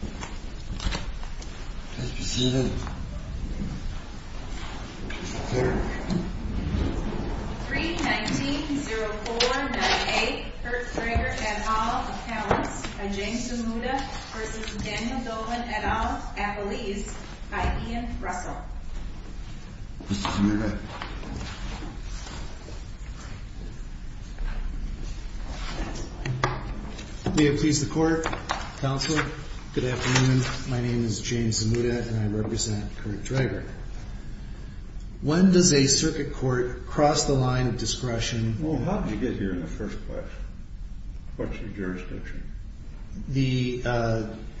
319-049-8 Kurt Draeger, et al., Appellants by James Zamuda v. Daniel Dolan, et al., Appellees by Ian Russell Mr. Zamuda May it please the Court, Counselor. Good afternoon. My name is James Zamuda and I represent Kurt Draeger. When does a circuit court cross the line of discretion? Well, how did you get here in the first place? What's your jurisdiction?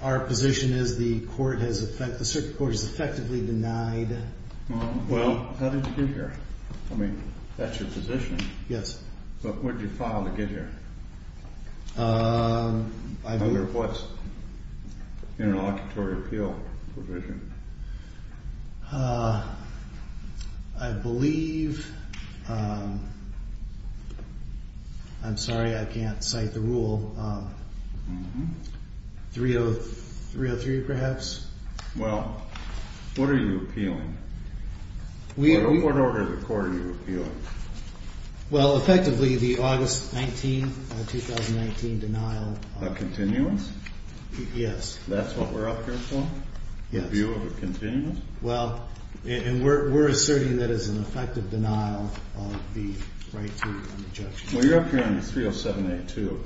Our position is the circuit court is effectively denied... Well, how did you get here? I mean, that's your position. Yes. But where did you file to get here? I believe... Under what interlocutory appeal provision? I believe... I'm sorry, I can't cite the rule. 303, perhaps? Yes. Well, what are you appealing? What order of the court are you appealing? Well, effectively the August 19, 2019 denial of... Of continuance? Yes. That's what we're up here for? Review of a continuance? Well, and we're asserting that it's an effective denial of the right to an injunction. Well, you're up here on 307A2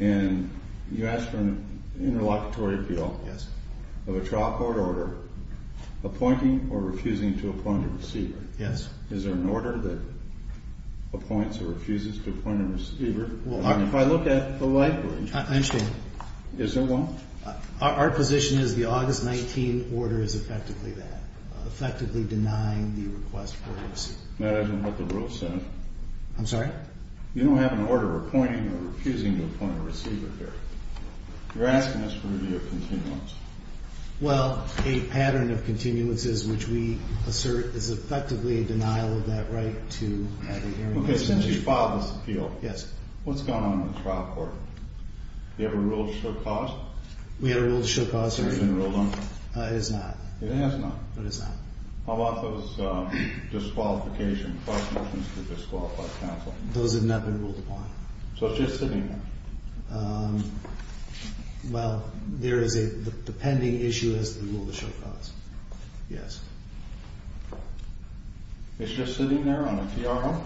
and you asked for an interlocutory appeal of a trial court order appointing or refusing to appoint a receiver. Yes. Is there an order that appoints or refuses to appoint a receiver? If I look at the likelihood... I understand. Is there one? Our position is the August 19 order is effectively that, effectively denying the request for a receiver. That isn't what the rule says. I'm sorry? You don't have an order appointing or refusing to appoint a receiver here. You're asking us for a review of continuance. Well, a pattern of continuances which we assert is effectively a denial of that right to the hearing... Okay, since you filed this appeal... Yes. What's going on in the trial court? Do you have a rule to show cause? We have a rule to show cause. Has it been ruled on? It has not. It has not. But it's not. How about those disqualifications, cross motions to disqualify counsel? Those have not been ruled upon. So it's just sitting there? Well, there is a pending issue as to the rule to show cause. Yes. It's just sitting there on a TRO?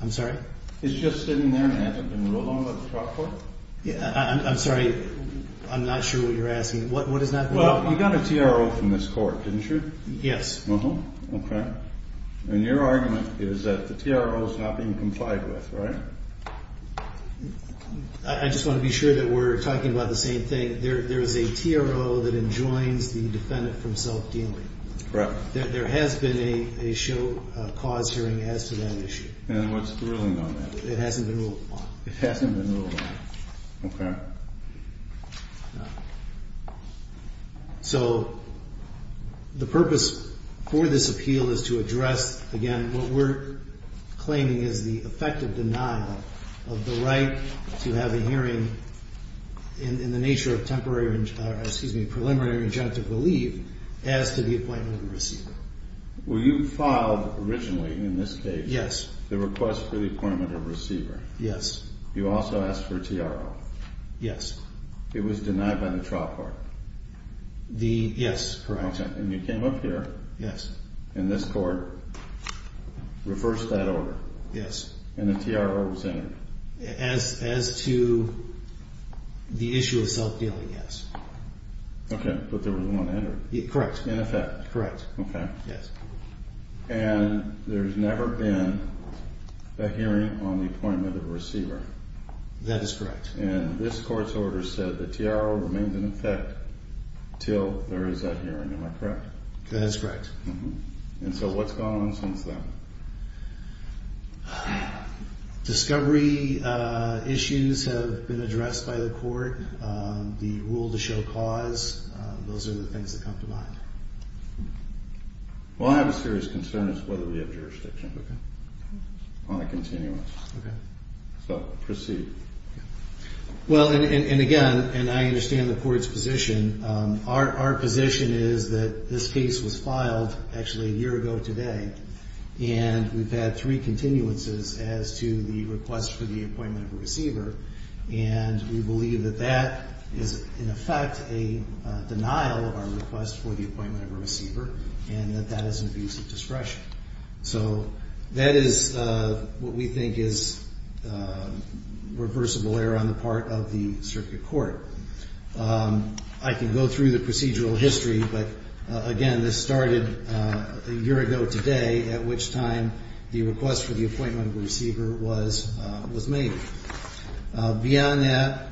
I'm sorry? It's just sitting there and hasn't been ruled on by the trial court? I'm sorry, I'm not sure what you're asking. What has not been ruled upon? You got a TRO from this court, didn't you? Yes. Okay. And your argument is that the TRO is not being complied with, right? I just want to be sure that we're talking about the same thing. There is a TRO that enjoins the defendant from self-dealing. Correct. There has been a show cause hearing as to that issue. And what's the ruling on that? It hasn't been ruled upon. It hasn't been ruled upon. Okay. So the purpose for this appeal is to address, again, what we're claiming is the effective denial of the right to have a hearing in the nature of temporary or, excuse me, preliminary injunctive relief as to the appointment of a receiver. Were you filed originally in this case? Yes. The request for the appointment of a receiver? Yes. You also asked for a TRO? Yes. It was denied by the trial court? Yes. Correct. And you came up here in this court, reversed that order, and a TRO was entered? As to the issue of self-dealing, yes. Okay. But there was one entered. Correct. In effect. Correct. Okay. Yes. And there's never been a hearing on the appointment of a receiver? That is correct. And this court's order said the TRO remains in effect until there is a hearing. Am I correct? That is correct. And so what's gone on since then? Discovery issues have been addressed by the court. The rule to show cause, those are the things that come to mind. Well, I have a serious concern as to whether we have jurisdiction. Okay. On a continuance. Okay. So proceed. Well, and again, and I understand the court's position, our position is that this case was filed actually a year ago today, and we believe that that is in effect a denial of our request for the appointment of a receiver, and that that is an abuse of discretion. So that is what we think is reversible error on the part of the circuit court. I can go through the procedural history, but, again, this started a year ago today, at which time the request for the appointment of a receiver was made. Beyond that,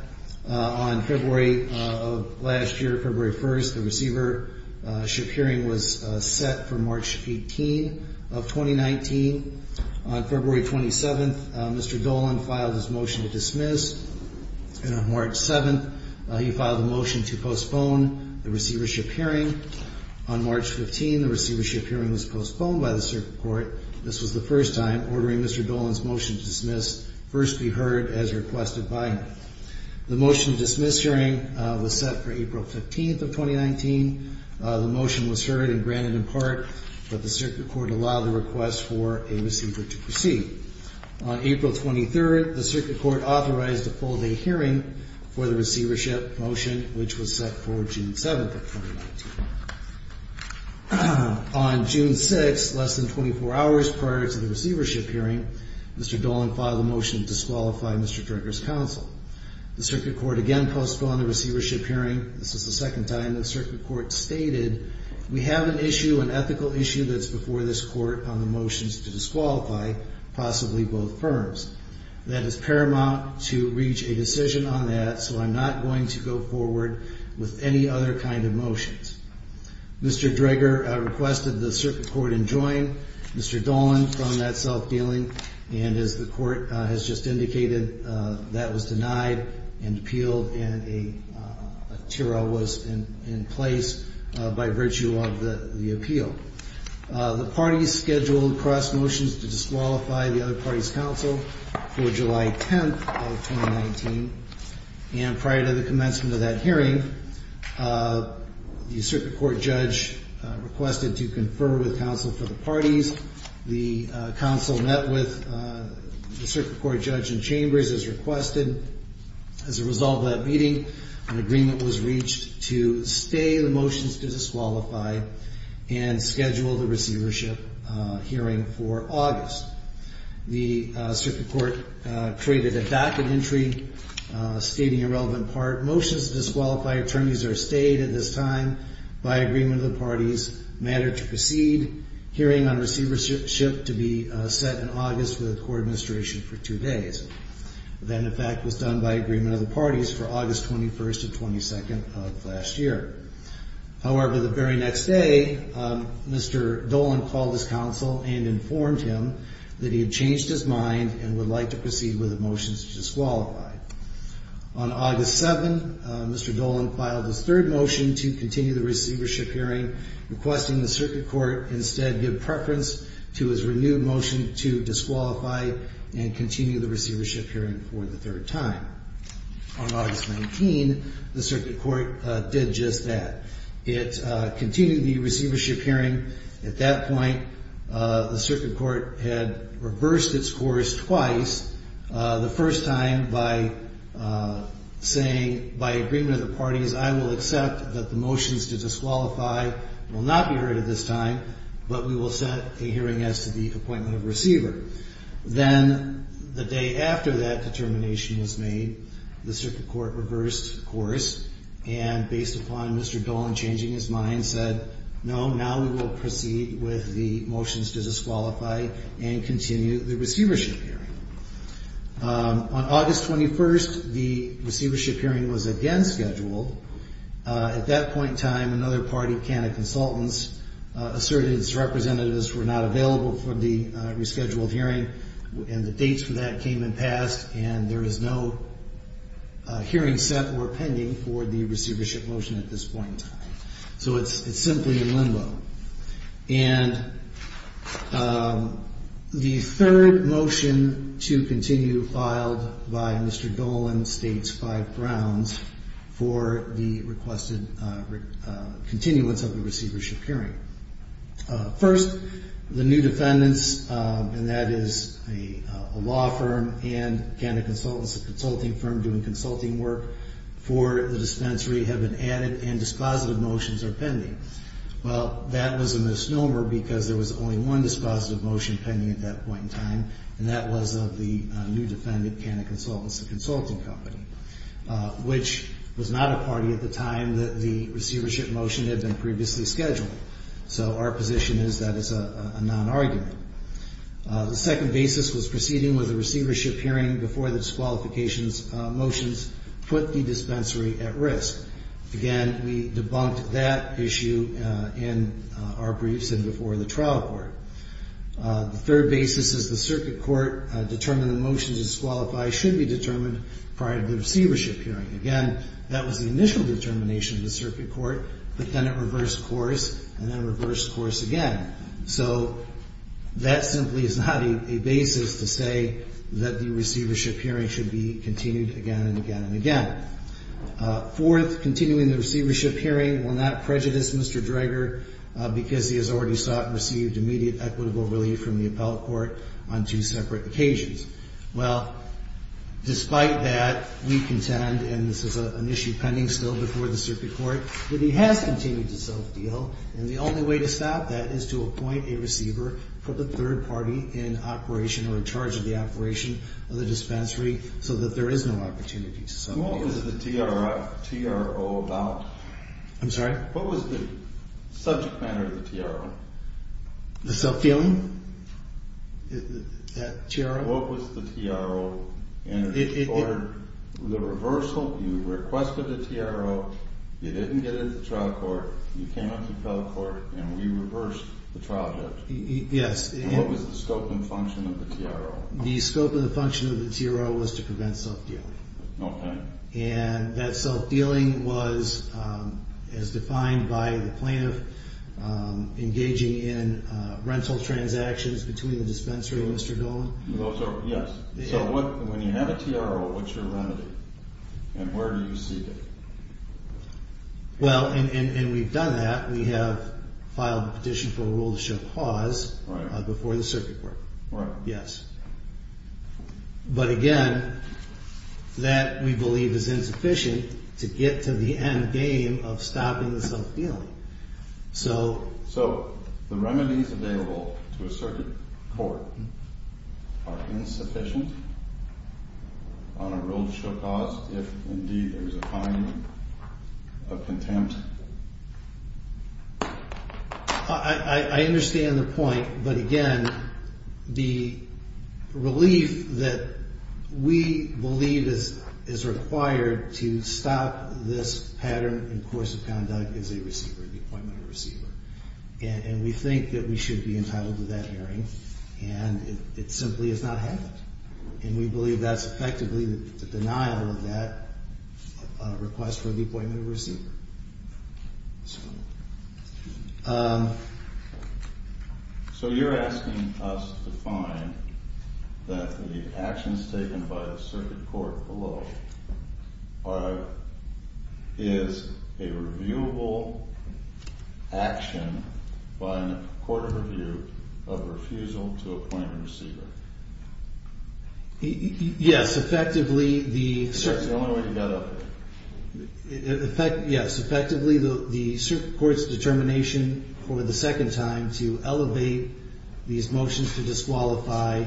on February of last year, February 1st, the receivership hearing was set for March 18th of 2019. On February 27th, Mr. Dolan filed his motion to dismiss, and on March 7th he filed a motion to postpone the receivership hearing. On March 15th, the receivership hearing was postponed by the circuit court. This was the first time ordering Mr. Dolan's motion to dismiss first be heard as requested by him. The motion to dismiss hearing was set for April 15th of 2019. The motion was heard and granted in part, but the circuit court allowed the request for a receiver to proceed. On April 23rd, the circuit court authorized a full day hearing for the receivership motion, which was set for June 7th of 2019. On June 6th, less than 24 hours prior to the receivership hearing, Mr. Dolan filed a motion to disqualify Mr. Dricker's counsel. The circuit court again postponed the receivership hearing. This is the second time the circuit court stated, we have an issue, an ethical issue that's before this court on the motions to disqualify possibly both firms. That is paramount to reach a decision on that, so I'm not going to go forward with any other kind of motions. Mr. Dricker requested the circuit court enjoin Mr. Dolan from that self-dealing, and as the court has just indicated, that was denied and appealed, and a TRL was in place by virtue of the appeal. The parties scheduled cross motions to disqualify the other parties' counsel for July 10th of 2019, and prior to the commencement of that hearing, the circuit court judge requested to confer with counsel for the parties. The counsel met with the circuit court judge in chambers as requested. As a result of that meeting, an agreement was reached to stay the motions to disqualify and schedule the receivership hearing for August. The circuit court created a docket entry stating a relevant part. Motions to disqualify attorneys are stayed at this time by agreement of the parties. Matter to proceed, hearing on receivership to be set in August with the court administration for two days. That, in fact, was done by agreement of the parties for August 21st and 22nd of last year. However, the very next day, Mr. Dolan called his counsel and informed him that he had changed his mind and would like to proceed with the motions to disqualify. On August 7th, Mr. Dolan filed his third motion to continue the receivership hearing, requesting the circuit court instead give preference to his renewed motion to disqualify and continue the receivership hearing for the third time. On August 19, the circuit court did just that. It continued the receivership hearing. At that point, the circuit court had reversed its course twice, the first time by saying, by agreement of the parties, I will accept that the motions to disqualify will not be heard at this time, but we will set a hearing as to the appointment of a receiver. Then, the day after that determination was made, the circuit court reversed course and, based upon Mr. Dolan changing his mind, said, no, now we will proceed with the motions to disqualify and continue the receivership hearing. On August 21st, the receivership hearing was again scheduled. At that point in time, another party, Canada Consultants, asserted its representatives were not available for the rescheduled hearing, and the dates for that came and passed, and there is no hearing set or pending for the receivership motion at this point in time. So it's simply in limbo. And the third motion to continue, filed by Mr. Dolan, states five grounds for the requested continuance of the receivership hearing. First, the new defendants, and that is a law firm and Canada Consultants, a consulting firm doing consulting work for the dispensary, have been added, and dispositive motions are pending. Well, that was a misnomer because there was only one dispositive motion pending at that point in time, and that was of the new defendant, Canada Consultants, a consulting company, which was not a party at the time that the receivership motion had been previously scheduled. So our position is that is a non-argument. The second basis was proceeding with the receivership hearing before the disqualifications motions put the dispensary at risk. Again, we debunked that issue in our briefs and before the trial court. The third basis is the circuit court determined the motion to disqualify should be determined prior to the receivership hearing. Again, that was the initial determination of the circuit court, but then it reversed course and then reversed course again. So that simply is not a basis to say that the receivership hearing should be continued again and again and again. Fourth, continuing the receivership hearing will not prejudice Mr. Dreger because he has already sought and received immediate equitable relief from the appellate court on two separate occasions. Well, despite that, we contend, and this is an issue pending still before the circuit court, that he has continued to self-deal, and the only way to stop that is to appoint a receiver for the third party in operation or in charge of the operation of the dispensary so that there is no opportunity to self-deal. So what was the TRO about? I'm sorry? What was the subject matter of the TRO? The self-dealing? What was the TRO? The reversal, you requested a TRO, you didn't get into trial court, you came out to appellate court, and we reversed the trial judge. Yes. What was the scope and function of the TRO? The scope and function of the TRO was to prevent self-dealing. Okay. And that self-dealing was as defined by the plaintiff engaging in rental transactions between the dispensary and Mr. Dolan. Yes. So when you have a TRO, what's your remedy? And where do you seek it? Well, and we've done that. We have filed a petition for a rule to show pause before the circuit court. Right. Yes. But, again, that we believe is insufficient to get to the end game of stopping the self-dealing. So the remedies available to a circuit court are insufficient on a rule to show pause if, indeed, there is a finding of contempt? I understand the point. But, again, the relief that we believe is required to stop this pattern in course of conduct is a receiver, the appointment of a receiver. And we think that we should be entitled to that hearing. And it simply has not happened. And we believe that's effectively the denial of that request for the appointment of a receiver. So you're asking us to find that the actions taken by the circuit court below is a reviewable action by a court of review of refusal to appoint a receiver? Yes. Yes, effectively the circuit court's determination for the second time to elevate these motions to disqualify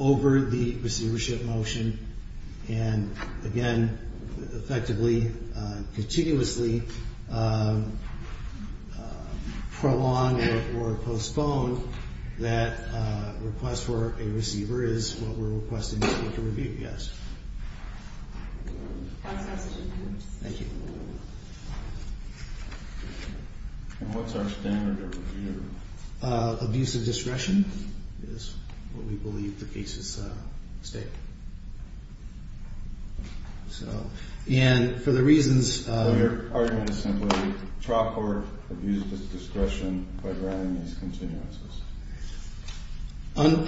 over the receivership motion. And, again, effectively, continuously prolong or postpone that request for a receiver is what we're requesting the court to review. Yes. Thank you. And what's our standard of review? Abuse of discretion is what we believe the case is stating. So, and for the reasons... So your argument is simply trial court abuses discretion by granting these continuances?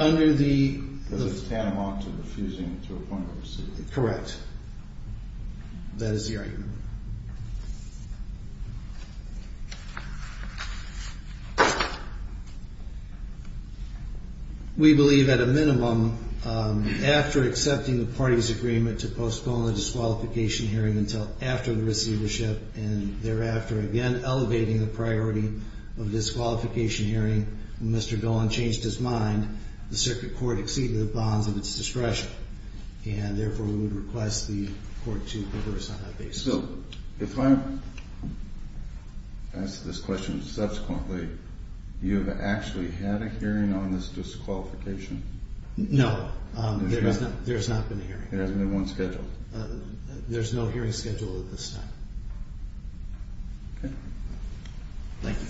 Under the... Because it's tantamount to refusing to appoint a receiver. Correct. That is the argument. We believe, at a minimum, after accepting the party's agreement to postpone the disqualification hearing until after the receivership, and thereafter, again, elevating the priority of disqualification hearing, Mr. Golan changed his mind. The circuit court exceeded the bonds of its discretion. And, therefore, we would request the court to reverse on that basis. So, if I ask this question subsequently, you have actually had a hearing on this disqualification? No, there has not been a hearing. There hasn't been one scheduled? There's no hearing scheduled at this time. Okay. Thank you.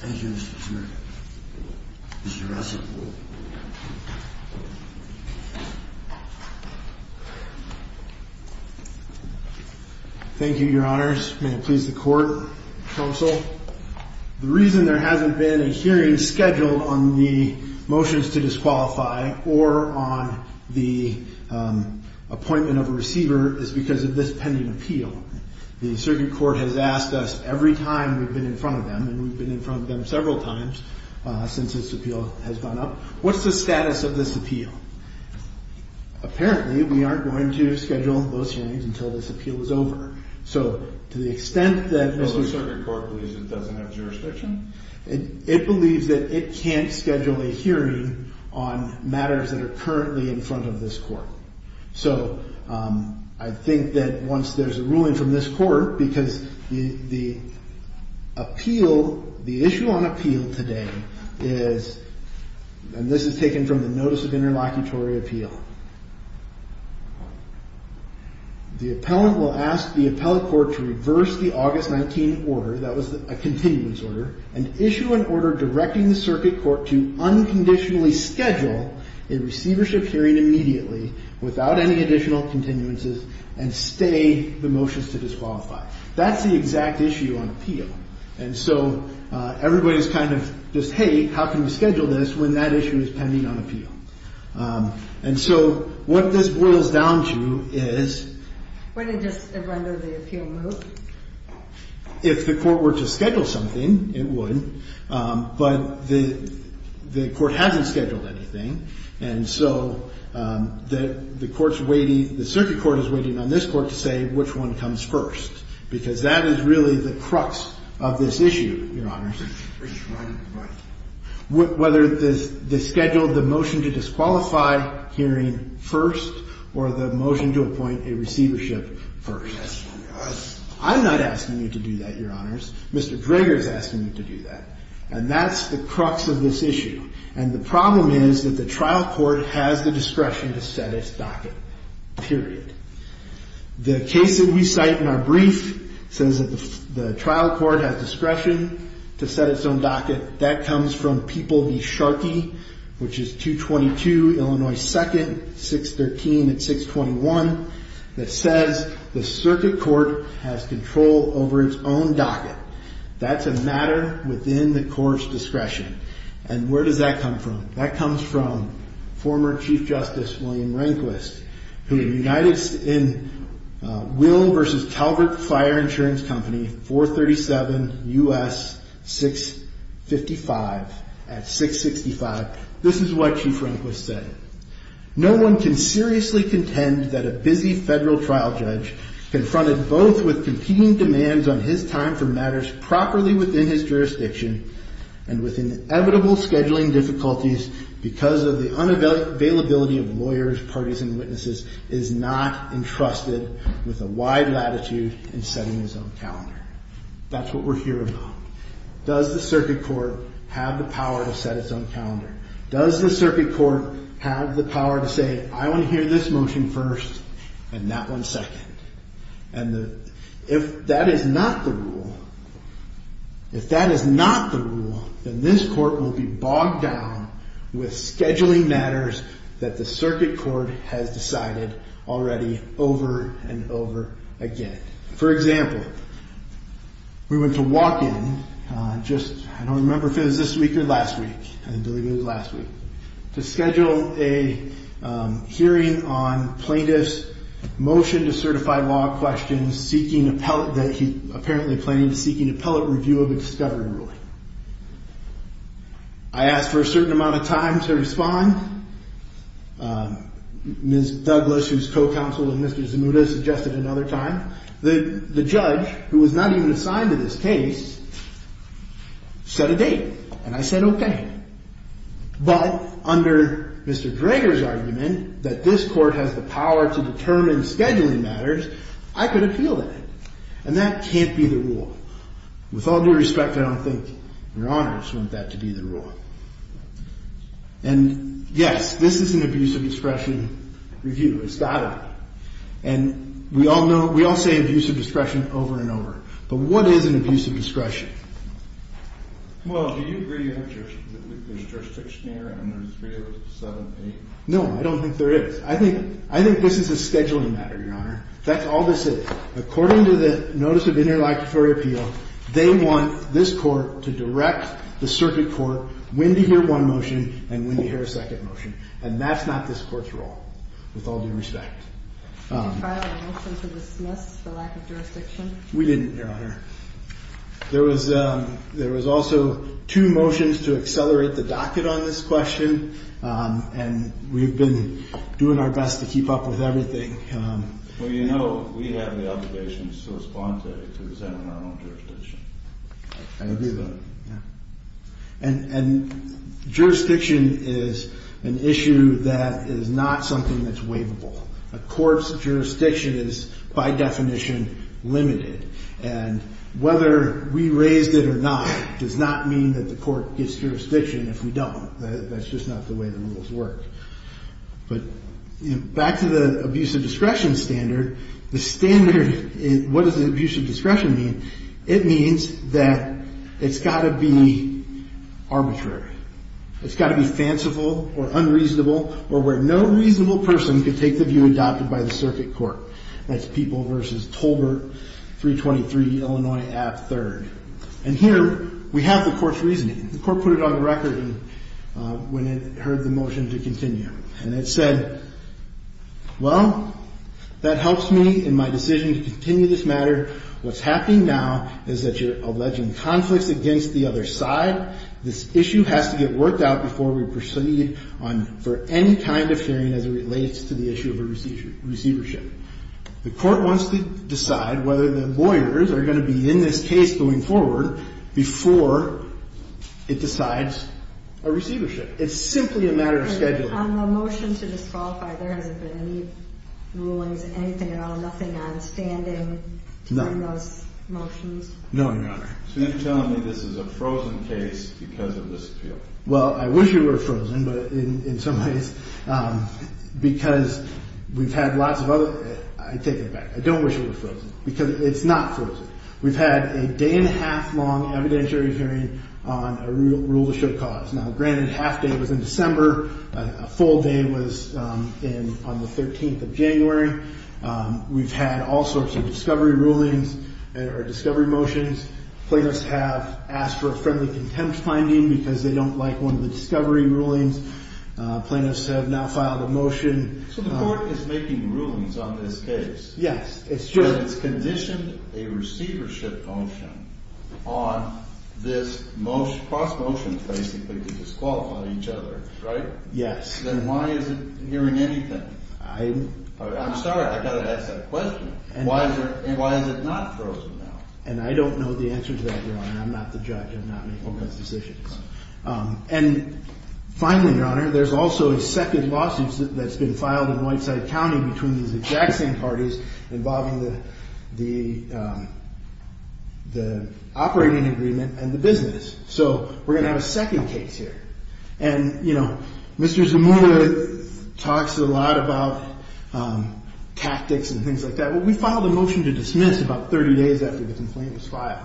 Thank you, Mr. Smirnoff. Mr. Russell. Thank you, Your Honors. May it please the court, counsel. The reason there hasn't been a hearing scheduled on the motions to disqualify or on the appointment of a receiver is because of this pending appeal. The circuit court has asked us every time we've been in front of them, and we've been in front of them several times since this appeal has gone up, what's the status of this appeal? Apparently, we aren't going to schedule those hearings until this appeal is over. So, to the extent that Mr. The circuit court believes it doesn't have jurisdiction? It believes that it can't schedule a hearing on matters that are currently in front of this court. So, I think that once there's a ruling from this court, because the appeal, the issue on appeal today is, and this is taken from the notice of interlocutory appeal. The appellant will ask the appellate court to reverse the August 19 order, that was a continuance order, and issue an order directing the circuit court to unconditionally schedule a receivership hearing immediately without any additional continuances and stay the motions to disqualify. That's the exact issue on appeal. And so, everybody is kind of just, hey, how can we schedule this when that issue is pending on appeal? And so, what this boils down to is. Would it just render the appeal moot? If the court were to schedule something, it would. But the court hasn't scheduled anything. And so, the court's waiting, the circuit court is waiting on this court to say which one comes first. Because that is really the crux of this issue, Your Honors. Right, right. Whether they schedule the motion to disqualify hearing first or the motion to appoint a receivership first. I'm not asking you to do that, Your Honors. Mr. Draeger is asking you to do that. And that's the crux of this issue. And the problem is that the trial court has the discretion to set its docket, period. The case that we cite in our brief says that the trial court has discretion to set its own docket. That comes from People v. Sharkey, which is 222 Illinois 2nd, 613 and 621. That says the circuit court has control over its own docket. That's a matter within the court's discretion. And where does that come from? That comes from former Chief Justice William Rehnquist, who united in Will v. Calvert Fire Insurance Company, 437 U.S. 655 at 665. This is what Chief Rehnquist said. No one can seriously contend that a busy federal trial judge confronted both with competing demands on his time for matters properly within his jurisdiction and with inevitable scheduling difficulties because of the unavailability of lawyers, parties, and witnesses is not entrusted with a wide latitude in setting his own calendar. That's what we're here about. Does the circuit court have the power to set its own calendar? Does the circuit court have the power to say, I want to hear this motion first and that one second? And if that is not the rule, if that is not the rule, then this court will be bogged down with scheduling matters that the circuit court has decided already over and over again. For example, we went to walk-in just, I don't remember if it was this week or last week, I believe it was last week, to schedule a hearing on plaintiff's motion to certify law questions seeking appellate review of a discovery ruling. I asked for a certain amount of time to respond. Ms. Douglas, who's co-counsel to Mr. Zanuta, suggested another time. The judge, who was not even assigned to this case, set a date, and I said okay. But under Mr. Greger's argument that this court has the power to determine scheduling matters, I could appeal that. And that can't be the rule. With all due respect, I don't think Your Honors want that to be the rule. And, yes, this is an abuse of discretion review. It's got to be. And we all know, we all say abuse of discretion over and over. But what is an abuse of discretion? Well, do you agree that there's jurisdiction here, and there's visuals 7 and 8? No, I don't think there is. I think this is a scheduling matter, Your Honor. That's all this is. According to the Notice of Interlocutory Appeal, they want this court to direct the circuit court when to hear one motion and when to hear a second motion. And that's not this court's role, with all due respect. We didn't, Your Honor. There was also two motions to accelerate the docket on this question, and we've been doing our best to keep up with everything. Well, you know, we have the obligation to respond to it, because that's our own jurisdiction. I agree with that. And jurisdiction is an issue that is not something that's waivable. A court's jurisdiction is, by definition, limited. And whether we raised it or not does not mean that the court gets jurisdiction if we don't. That's just not the way the rules work. But back to the abuse of discretion standard, the standard, what does abuse of discretion mean? It means that it's got to be arbitrary. It's got to be fanciful or unreasonable or where no reasonable person could take the view adopted by the circuit court. That's People v. Tolbert, 323 Illinois Ave. 3rd. And here we have the court's reasoning. The court put it on the record when it heard the motion to continue. And it said, well, that helps me in my decision to continue this matter. What's happening now is that you're alleging conflicts against the other side. This issue has to get worked out before we proceed for any kind of hearing as it relates to the issue of a receivership. The court wants to decide whether the lawyers are going to be in this case going forward before it decides a receivership. It's simply a matter of scheduling. On the motion to disqualify, there hasn't been any rulings, anything at all, nothing on standing to bring those motions? No, Your Honor. So you're telling me this is a frozen case because of this appeal? Well, I wish it were frozen, but in some ways because we've had lots of other – I take it back. I don't wish it were frozen because it's not frozen. We've had a day-and-a-half-long evidentiary hearing on a rule to show cause. Now, granted, a half day was in December. A full day was on the 13th of January. We've had all sorts of discovery rulings or discovery motions. Plaintiffs have asked for a friendly contempt finding because they don't like one of the discovery rulings. Plaintiffs have now filed a motion. So the court is making rulings on this case? Yes, it's sure. And it's conditioned a receivership motion on this cross-motion basically to disqualify each other, right? Yes. Then why is it hearing anything? I'm sorry. I've got to ask that question. Why is it not frozen now? And I don't know the answer to that, Your Honor. I'm not the judge. I'm not making those decisions. And finally, Your Honor, there's also a second lawsuit that's been filed in Whiteside County between these exact same parties involving the operating agreement and the business. So we're going to have a second case here. And, you know, Mr. Zamora talks a lot about tactics and things like that. We filed a motion to dismiss about 30 days after the complaint was filed.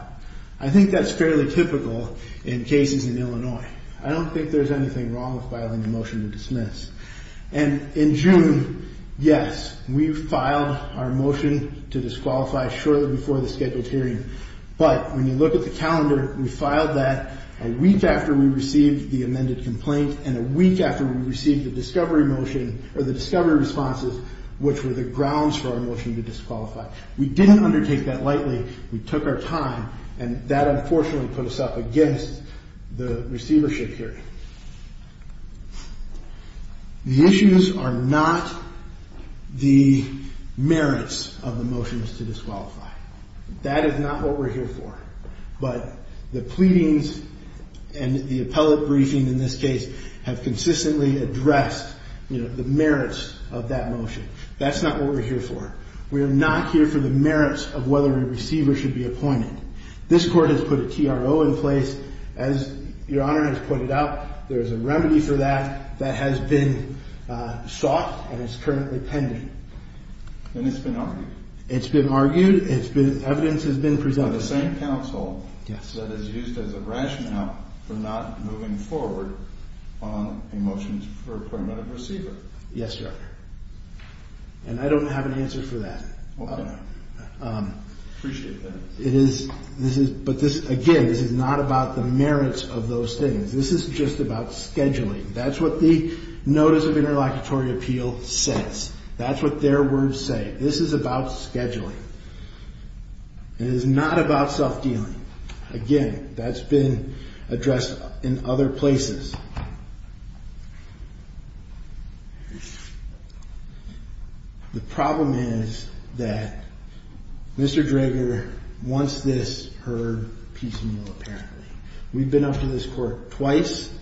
I think that's fairly typical in cases in Illinois. I don't think there's anything wrong with filing a motion to dismiss. And in June, yes, we filed our motion to disqualify shortly before the scheduled hearing. But when you look at the calendar, we filed that a week after we received the amended complaint and a week after we received the discovery motion or the discovery responses, which were the grounds for our motion to disqualify. We didn't undertake that lightly. We took our time. And that, unfortunately, put us up against the receivership hearing. The issues are not the merits of the motions to disqualify. That is not what we're here for. But the pleadings and the appellate briefing in this case have consistently addressed, you know, the merits of that motion. That's not what we're here for. We are not here for the merits of whether a receiver should be appointed. This court has put a TRO in place. As Your Honor has pointed out, there's a remedy for that that has been sought and is currently pending. And it's been argued? It's been argued. Evidence has been presented. By the same counsel that is used as a rationale for not moving forward on a motion for appointment of receiver? Yes, Your Honor. And I don't have an answer for that. Okay. Appreciate that. It is. But this, again, this is not about the merits of those things. This is just about scheduling. That's what the Notice of Interlocutory Appeal says. That's what their words say. This is about scheduling. It is not about self-dealing. Again, that's been addressed in other places. The problem is that Mr. Drager wants this, her, piecemeal apparently. We've been up to this court twice,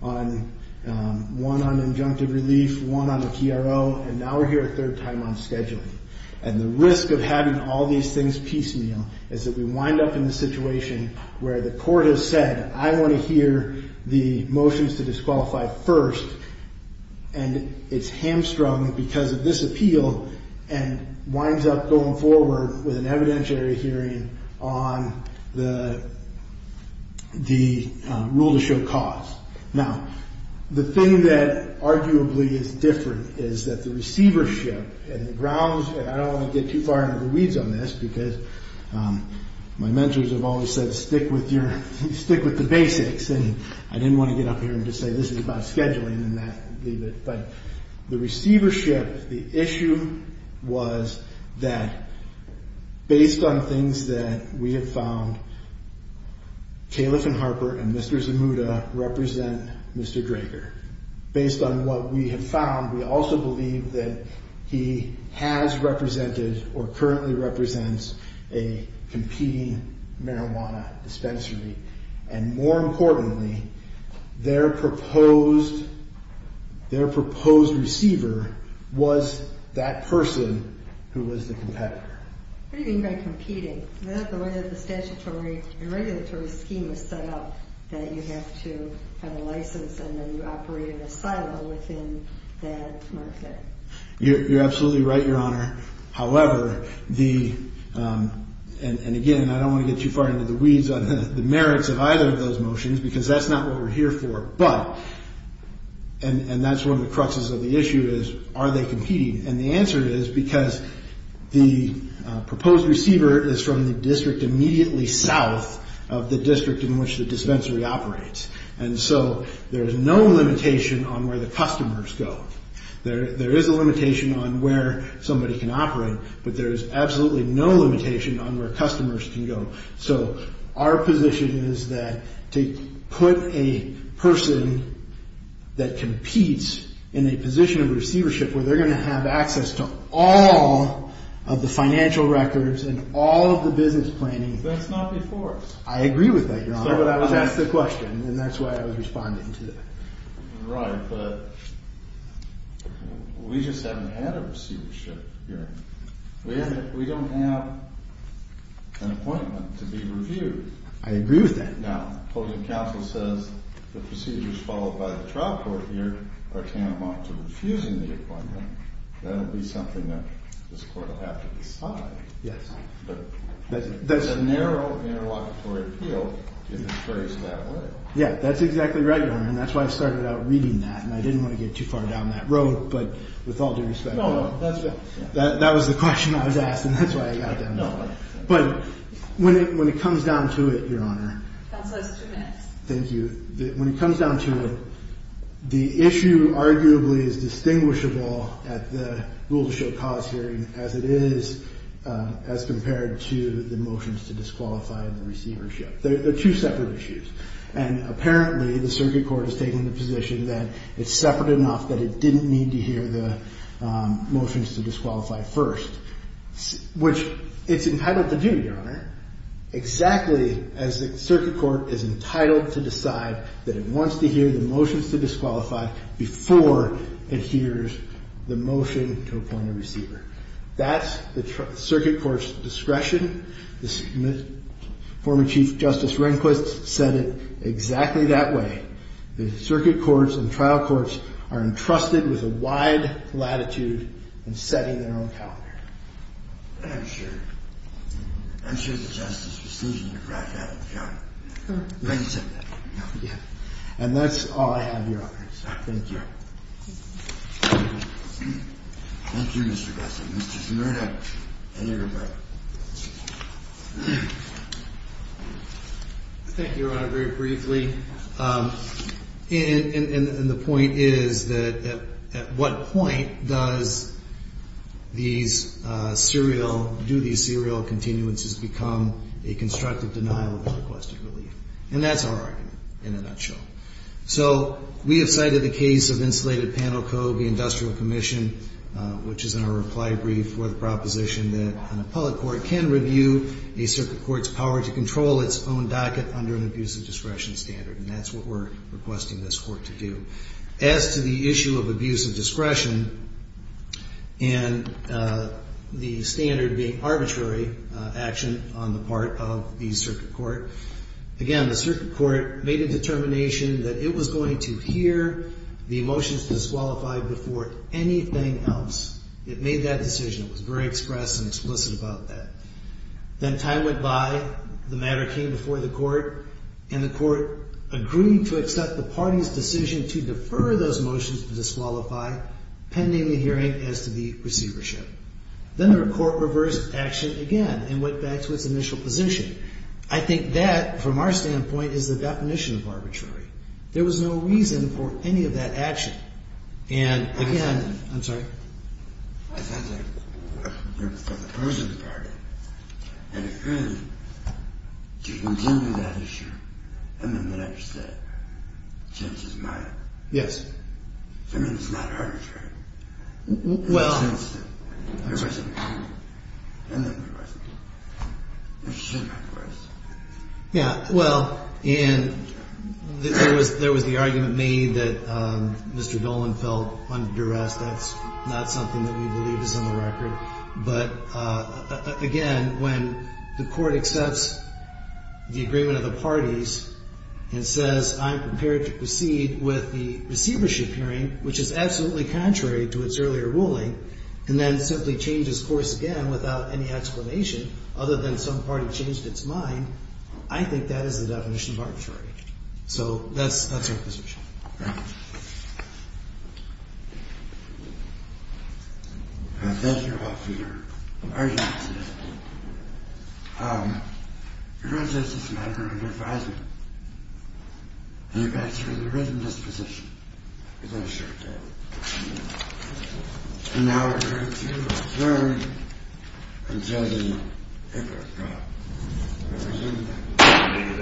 one on injunctive relief, one on the TRO, and now we're here a third time on scheduling. And the risk of having all these things piecemeal is that we wind up in the situation where the court has said, I want to hear the motions to disqualify first, and it's hamstrung because of this appeal and winds up going forward with an evidentiary hearing on the rule to show cause. Now, the thing that arguably is different is that the receivership and the grounds, and I don't want to get too far into the weeds on this because my mentors have always said stick with the basics, and I didn't want to get up here and just say this is about scheduling and leave it. But the receivership, the issue was that based on things that we have found, Califf and Harper and Mr. Zamuda represent Mr. Drager. Based on what we have found, we also believe that he has represented or currently represents a competing marijuana dispensary. And more importantly, their proposed receiver was that person who was the competitor. What do you mean by competing? Is that the way that the statutory and regulatory scheme is set up, that you have to have a license and then you operate in a silo within that market? You're absolutely right, Your Honor. However, and again, I don't want to get too far into the weeds on the merits of either of those motions because that's not what we're here for. But, and that's one of the cruxes of the issue, is are they competing? And the answer is because the proposed receiver is from the district immediately south of the district in which the dispensary operates. And so there's no limitation on where the customers go. There is a limitation on where somebody can operate, but there is absolutely no limitation on where customers can go. So our position is that to put a person that competes in a position of receivership where they're going to have access to all of the financial records and all of the business planning. That's not before. I agree with that, Your Honor. That's the question, and that's why I was responding to that. You're right, but we just haven't had a receivership hearing. We don't have an appointment to be reviewed. I agree with that. Now, closing counsel says the procedures followed by the trial court here are tantamount to refusing the appointment. That'll be something that this court will have to decide. Yes. But there's a narrow interlocutory appeal in this case that way. Yeah, that's exactly right, Your Honor, and that's why I started out reading that, and I didn't want to get too far down that road. But with all due respect, that was the question I was asked, and that's why I got down the road. But when it comes down to it, Your Honor. Counsel has two minutes. Thank you. When it comes down to it, the issue arguably is distinguishable at the rule to show cause hearing as it is as compared to the motions to disqualify the receivership. They're two separate issues, and apparently the circuit court has taken the position that it's separate enough that it didn't need to hear the motions to disqualify first, which it's entitled to do, Your Honor, exactly as the circuit court is entitled to decide that it wants to hear the motions to disqualify before it hears the motion to appoint a receiver. That's the circuit court's discretion. The former Chief Justice Rehnquist said it exactly that way. The circuit courts and trial courts are entrusted with a wide latitude in setting their own calendar. I'm sure. I'm sure the Justice was thinking about that, Your Honor. And that's all I have, Your Honor. Thank you. Thank you, Mr. Gessner. Mr. Scimitar, any rebuttal? Thank you, Your Honor, very briefly. And the point is that at what point does these serial, do these serial continuances become a constructive denial of the requested relief? And that's our argument in a nutshell. So we have cited the case of Insulated Panel Code, the Industrial Commission, which is in our reply brief for the proposition that an appellate court can review a circuit court's power to control its own docket under an abuse of discretion standard. And that's what we're requesting this court to do. As to the issue of abuse of discretion and the standard being arbitrary action on the part of the circuit court, again, the circuit court made a determination that it was going to hear the motions disqualified before anything else. It made that decision. It was very express and explicit about that. Then time went by, the matter came before the court, and the court agreed to accept the party's decision to defer those motions to disqualify pending the hearing as to the receivership. Then the court reversed action again and went back to its initial position. I think that, from our standpoint, is the definition of arbitrary. There was no reason for any of that action. And, again, I'm sorry. Yes. Well. Yes. Yeah. Well, and there was the argument made that Mr. Dolan felt under duress. That's not something that we believe is on the record. But, again, when the court accepts the agreement of the parties and says, I'm prepared to proceed with the receivership hearing, which is absolutely contrary to its earlier ruling, and then simply changes course again without any explanation other than some party changed its mind, I think that is the definition of arbitrary. So that's our position. Thank you. Thank you, Your Honor. Thank you, Your Honor.